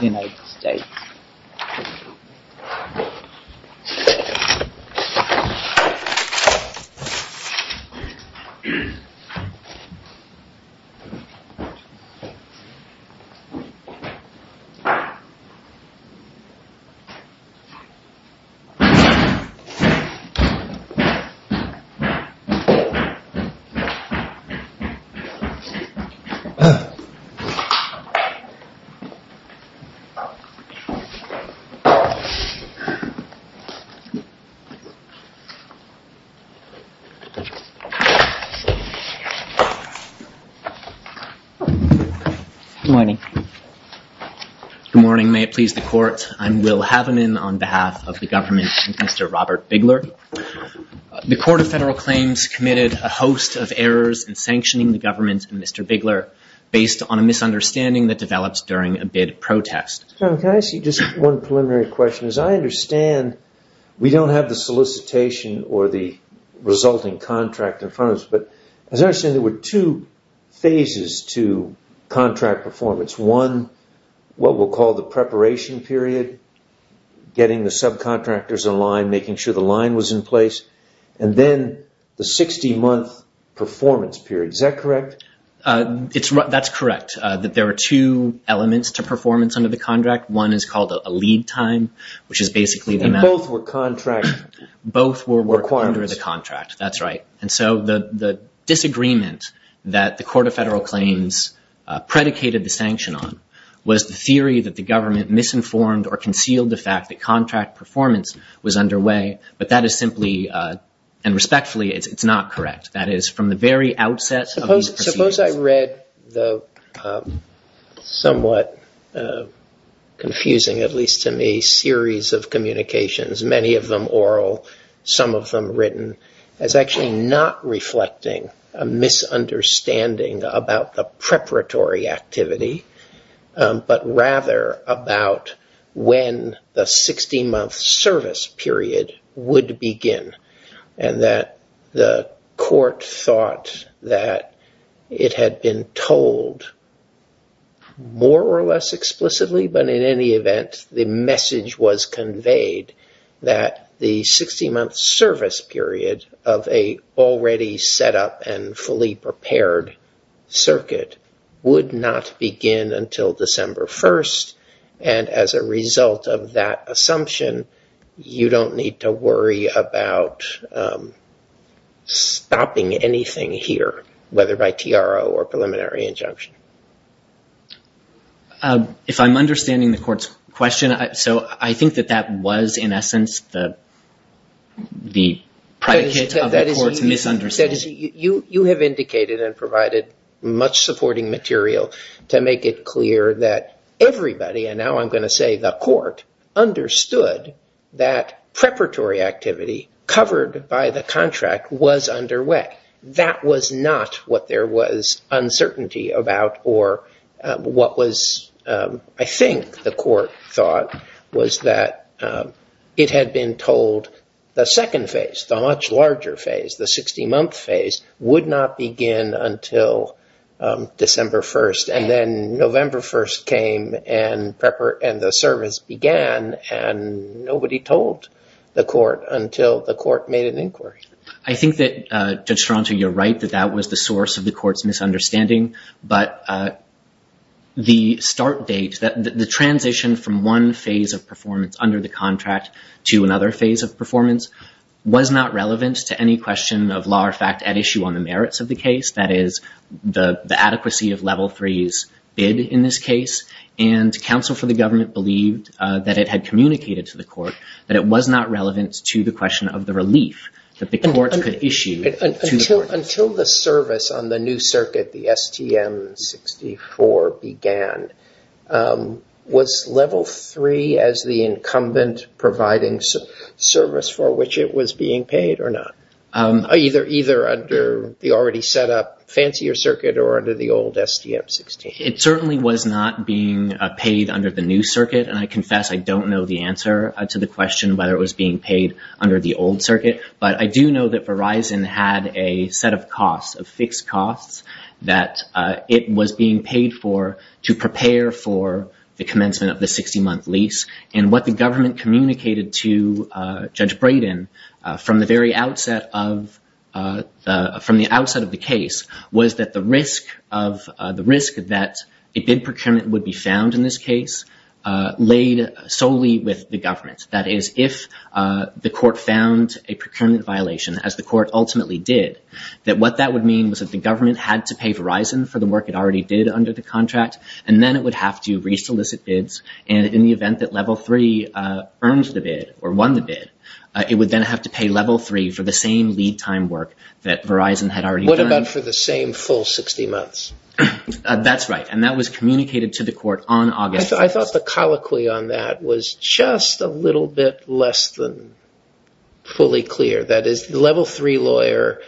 United States Good morning. May it please the Court, I'm Will Havenin on behalf of the government and Mr. Robert Bigler. The Court of Federal Claims committed a host of errors in sanctioning the government and Mr. Bigler based on a misunderstanding that develops during a bid protest. Can I ask you just one preliminary question? As I understand, we don't have the solicitation or the resulting contract in front of us, but as I understand there were two phases to contract performance. One, what we'll call the preparation period, getting the subcontractors in line, making sure the line was in place, and then the 60-month performance period. Is that correct? That's correct, that there are two elements to performance under the contract. One is called a lead time, which is basically the amount... And both were contract requirements. Both were work under the contract, that's right. And so the disagreement that the Court of Federal Claims predicated the sanction on was the theory that the government misinformed or concealed the fact that contract performance was underway, but that is simply, and respectfully, it's not correct. That is, from the very outset of the proceedings... Suppose I read the somewhat confusing, at least to me, series of communications, many of them oral, some of them written, as actually not reflecting a misunderstanding about the when the 60-month service period would begin, and that the court thought that it had been told more or less explicitly, but in any event, the message was conveyed that the 60-month service period of a already set up and fully prepared circuit would not begin until December 1st, and as a result of that assumption, you don't need to worry about stopping anything here, whether by TRO or preliminary injunction. If I'm understanding the court's question, so I think that that was in essence the predicate of the court's misunderstanding. You have indicated and provided much supporting material to make it clear that everybody, and now I'm going to say the court, understood that preparatory activity covered by the contract was underway. That was not what there was uncertainty about or what was, I think, the court thought was that it had been told the second phase, the much larger phase, the 60-month phase, would not begin until December 1st, and then November 1st came and the service began, and nobody told the court until the court made an inquiry. I think that, Judge Stronser, you're right that that was the source of the court's misunderstanding, but the start date, the transition from one phase of performance under the contract to another phase of performance, was not relevant to any question of law or fact at issue on the merits of the case, that is, the adequacy of Level 3's bid in this case, and counsel for the government believed that it had communicated to the court that it was not relevant to the question of the relief that the court could issue. Until the service on the new circuit, the STM 64, began, was Level 3 as the incumbent providing service for which it was being paid or not, either under the already set up fancier circuit or under the old STM 16? It certainly was not being paid under the new circuit, and I confess I don't know the answer to the question whether it was being paid under the old circuit, but I do know that Verizon had a set of costs, of fixed costs, that it was being paid for to prepare for the commencement of the 60-month lease, and what the government communicated to Judge Brayden from the very outset of the case was that the risk that a bid procurement would be found in this case laid solely with the government, that is, if the court found a procurement violation, as the court ultimately did, that what that would mean was that the government had to pay Verizon for the work it already did under the contract, and then it would have to re-solicit bids, and in the event that Level 3 earned the bid, or won the bid, it would then have to pay Level 3 for the same lead time work that Verizon had already done. What about for the same full 60 months? That's right, and that was communicated to the court on August 1st. I thought the colloquy on that was just a little bit less than fully clear, that is, the Level 3 lawyer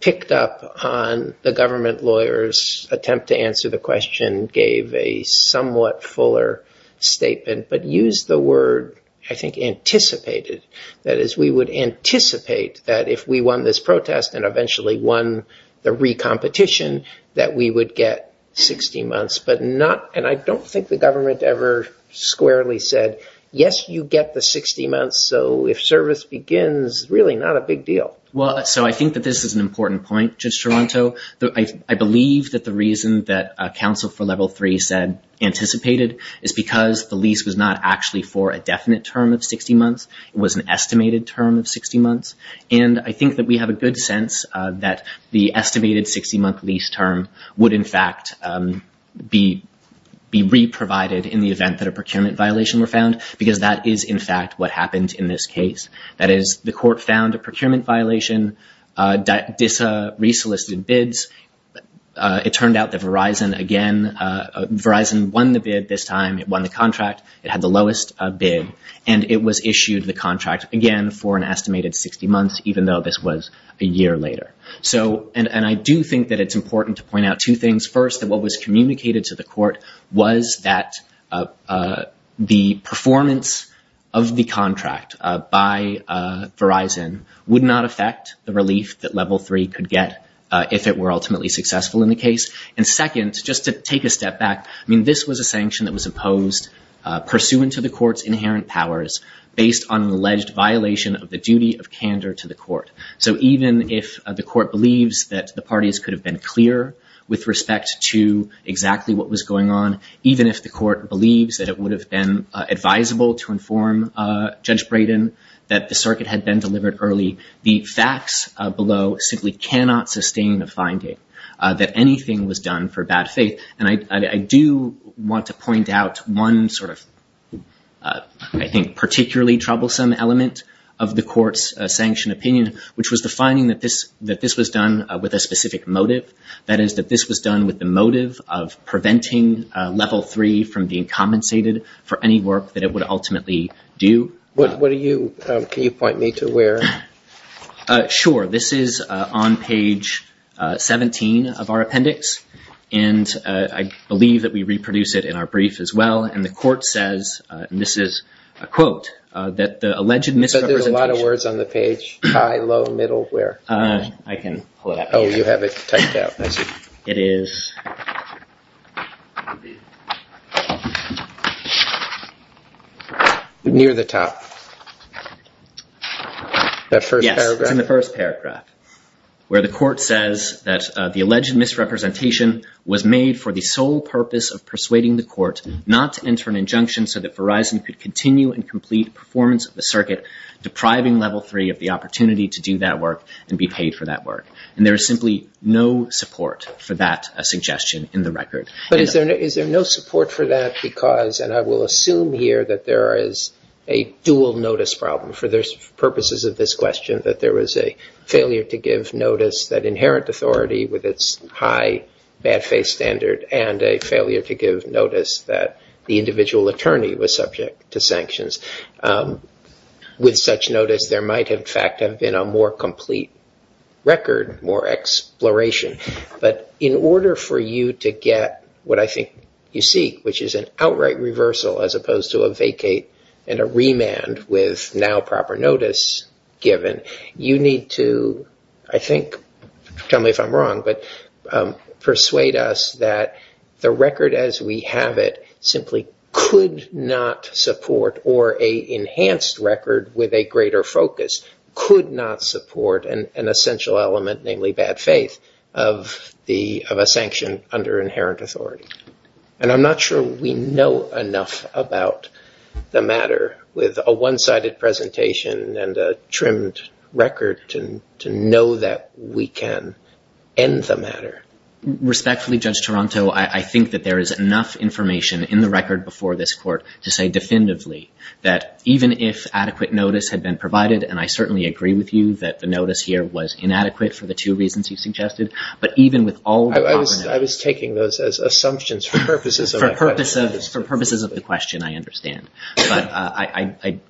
picked up on the government lawyer's attempt to answer the question, gave a somewhat fuller statement, but used the word, I think, anticipated, that is, we would anticipate that if we won this protest and eventually won the re-competition, that we would get 60 months, but not, and I don't think the government ever squarely said, yes, you get the 60 months, so if service begins, really not a big deal. So I think that this is an important point, Judge Toronto. I believe that the reason that counsel for Level 3 said anticipated is because the lease was not actually for a definite term of 60 months, it was an estimated term of 60 months, and I think that we have a good sense that the estimated 60-month lease term would, in fact, be re-provided in the event that a procurement violation were found because that is, in fact, what happened in this case, that is, the court found a procurement violation, re-solicited bids, it turned out that Verizon again, Verizon won the bid this time, it won the contract, it had the lowest bid, and it was issued the contract again for an estimated 60 months, even though this was a year later. So, and I do think that it's important to point out two things, first, that what was communicated to the court was that the performance of the contract by Verizon would not affect the relief that Level 3 could get if it were ultimately successful in the case, and second, just to take a step back, I mean, this was a sanction that was imposed pursuant to the court's inherent powers based on an alleged violation of the duty of candor to the court. So even if the court believes that the parties could have been clear with respect to exactly what was going on, even if the court believes that it would have been advisable to inform Judge Brayden that the circuit had been delivered early, the facts below simply cannot sustain a finding that anything was done for bad faith. And I do want to point out one sort of, I think, particularly troublesome element of the court's sanctioned opinion, which was the finding that this was done with a specific motive, that is, that this was done with the motive of preventing Level 3 from being compensated for any work that it would ultimately do. What are you, can you point me to where? Sure, this is on page 17 of our appendix, and I believe that we reproduce it in our brief as well, and the court says, and this is a quote, that the alleged misrepresentation You said there's a lot of words on the page, high, low, middle, where? I can pull it out. Oh, you have it typed out, I see. It is near the top, that first paragraph. Yes, it's in the first paragraph, where the court says that the alleged misrepresentation was made for the sole purpose of persuading the court not to enter an injunction so that Verizon could continue and complete performance of the circuit, depriving Level 3 of the opportunity to do that work and be paid for that work. There is simply no support for that suggestion in the record. Is there no support for that because, and I will assume here that there is a dual notice problem for purposes of this question, that there was a failure to give notice that inherent authority with its high bad faith standard and a failure to give notice that the individual attorney was subject to sanctions. With such notice, there might in fact have been a more complete record, more exploration. But in order for you to get what I think you seek, which is an outright reversal as opposed to a vacate and a remand with now proper notice given, you need to, I think, tell me if I'm wrong, but persuade us that the record as we have it simply could not support or in enhanced record with a greater focus could not support an essential element, namely bad faith, of a sanction under inherent authority. And I'm not sure we know enough about the matter with a one-sided presentation and a trimmed record to know that we can end the matter. Respectfully, Judge Taranto, I think that there is enough information in the record before this court to say definitively that even if adequate notice had been provided, and I certainly agree with you that the notice here was inadequate for the two reasons you suggested, but even with all the... I was taking those as assumptions for purposes of my question. For purposes of the question, I understand, but I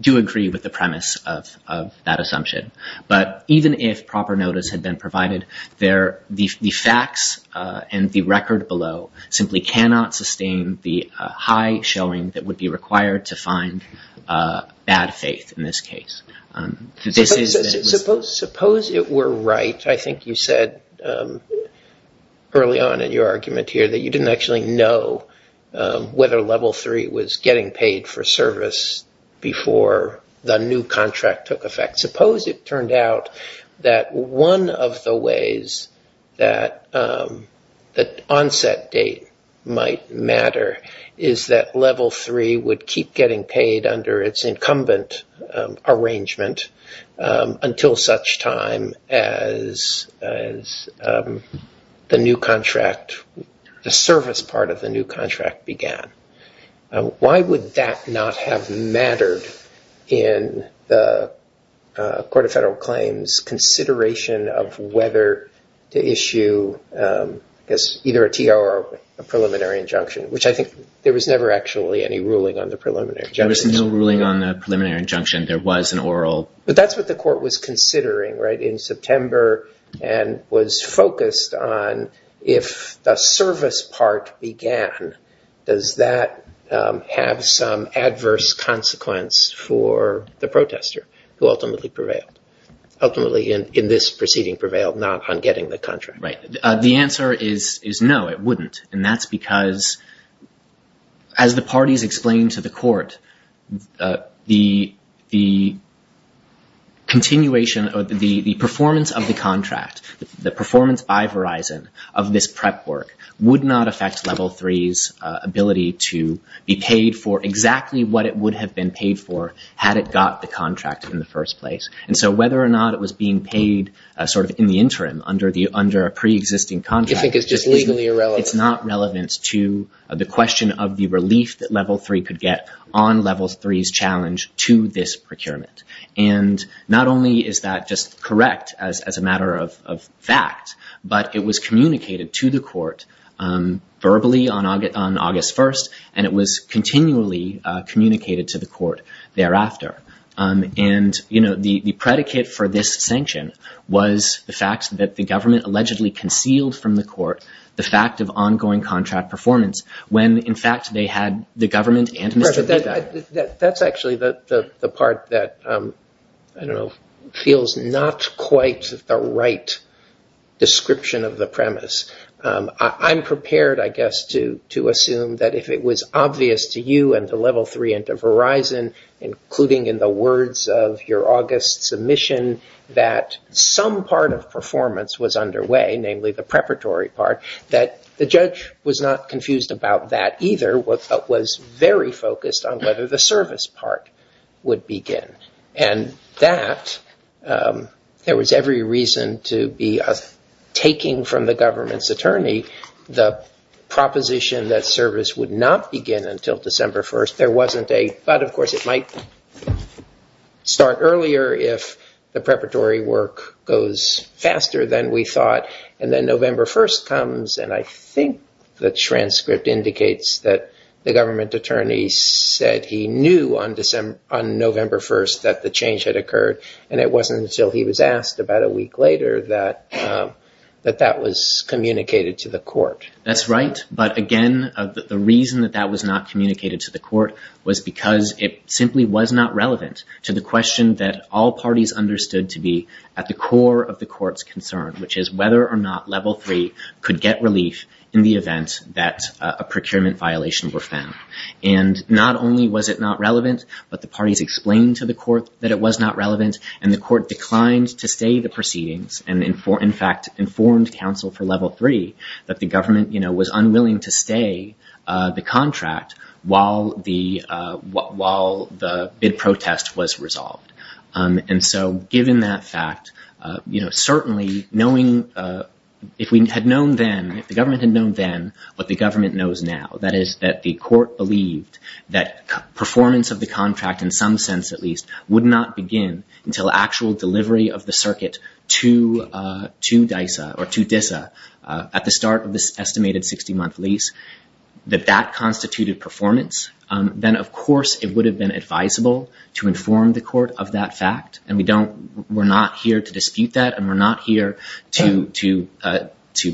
do agree with the premise of that assumption. But even if proper notice had been provided, the facts and the record below simply cannot sustain the high showing that would be required to find bad faith in this case. Suppose it were right, I think you said early on in your argument here, that you didn't actually know whether Level 3 was getting paid for service before the new contract took effect. Suppose it turned out that one of the ways that the onset date might not have been paid matter is that Level 3 would keep getting paid under its incumbent arrangement until such time as the new contract, the service part of the new contract began. Why would that not have mattered in the Court of Federal Claims' consideration of whether to issue either a T.R. or a preliminary injunction, which I think there was never actually any ruling on the preliminary injunction. There was no ruling on the preliminary injunction. There was an oral... But that's what the Court was considering in September and was focused on if the service part began, does that have some adverse consequence for the protester who ultimately prevailed? Ultimately in this proceeding prevailed not on getting the contract. The answer is no, it wouldn't and that's because as the parties explained to the court, the performance of the contract, the performance by Verizon of this prep work would not affect Level 3's ability to be paid for exactly what it would have been paid for had it got the contract in the first place and so whether or not it was being paid sort of in the interim under a pre-existing contract is not relevant to the question of the relief that Level 3 could get on Level 3's challenge to this procurement and not only is that just correct as a matter of fact, but it was communicated to the court verbally on August 1st and it was continually communicated to the court thereafter and the predicate for this sanction was the fact that the government allegedly concealed from the court the fact of ongoing contract performance when in fact they had the government and... That's actually the part that feels not quite the right description of the premise. I'm prepared I guess to assume that if it was obvious to you and to Level 3 and to Verizon including in the words of your August submission that some part of performance was underway, namely the preparatory part, that the judge was not confused about that either but was very focused on whether the service part would begin and that there was every reason to be taking from the government's attorney the proposition that service would not begin until December 1st. There wasn't a... But of course it might start earlier if the preparatory work goes faster than we thought and then November 1st comes and I think the transcript indicates that the government attorney said he knew on November 1st that the change had come, that that was communicated to the court. That's right but again the reason that that was not communicated to the court was because it simply was not relevant to the question that all parties understood to be at the core of the court's concern which is whether or not Level 3 could get relief in the event that a procurement violation were found. And not only was it not relevant but the parties explained to the court that it was not relevant and the court declined to stay the proceedings and in fact informed counsel for Level 3 that the government was unwilling to stay the contract while the bid protest was resolved. And so given that fact, certainly knowing... If we had known then, if the government had known then, what the government knows now, that is that the court believed that performance of the contract in some sense at least would not begin until actual delivery of the circuit to DISA at the start of the estimated 60-month lease, that that constituted performance, then of course it would have been advisable to inform the court of that fact and we're not here to dispute that and we're not here to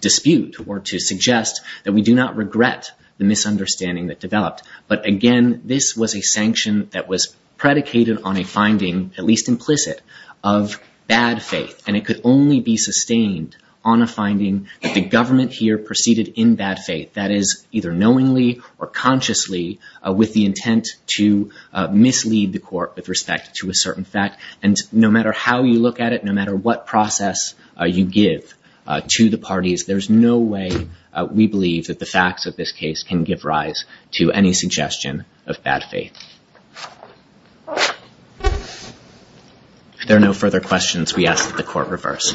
dispute or to suggest that we do not regret the misunderstanding that developed. But again this was a sanction that was predicated on a finding, at least implicit, of bad faith and it could only be sustained on a finding that the government here proceeded in bad faith, that is either knowingly or consciously with the intent to mislead the court with respect to a certain fact. And no matter how you look at it, no matter what process you give to the parties, there's no way we believe that the facts of this case can give rise to any suggestion of bad faith. If there are no further questions, we ask that the court reverse. Thank you very much.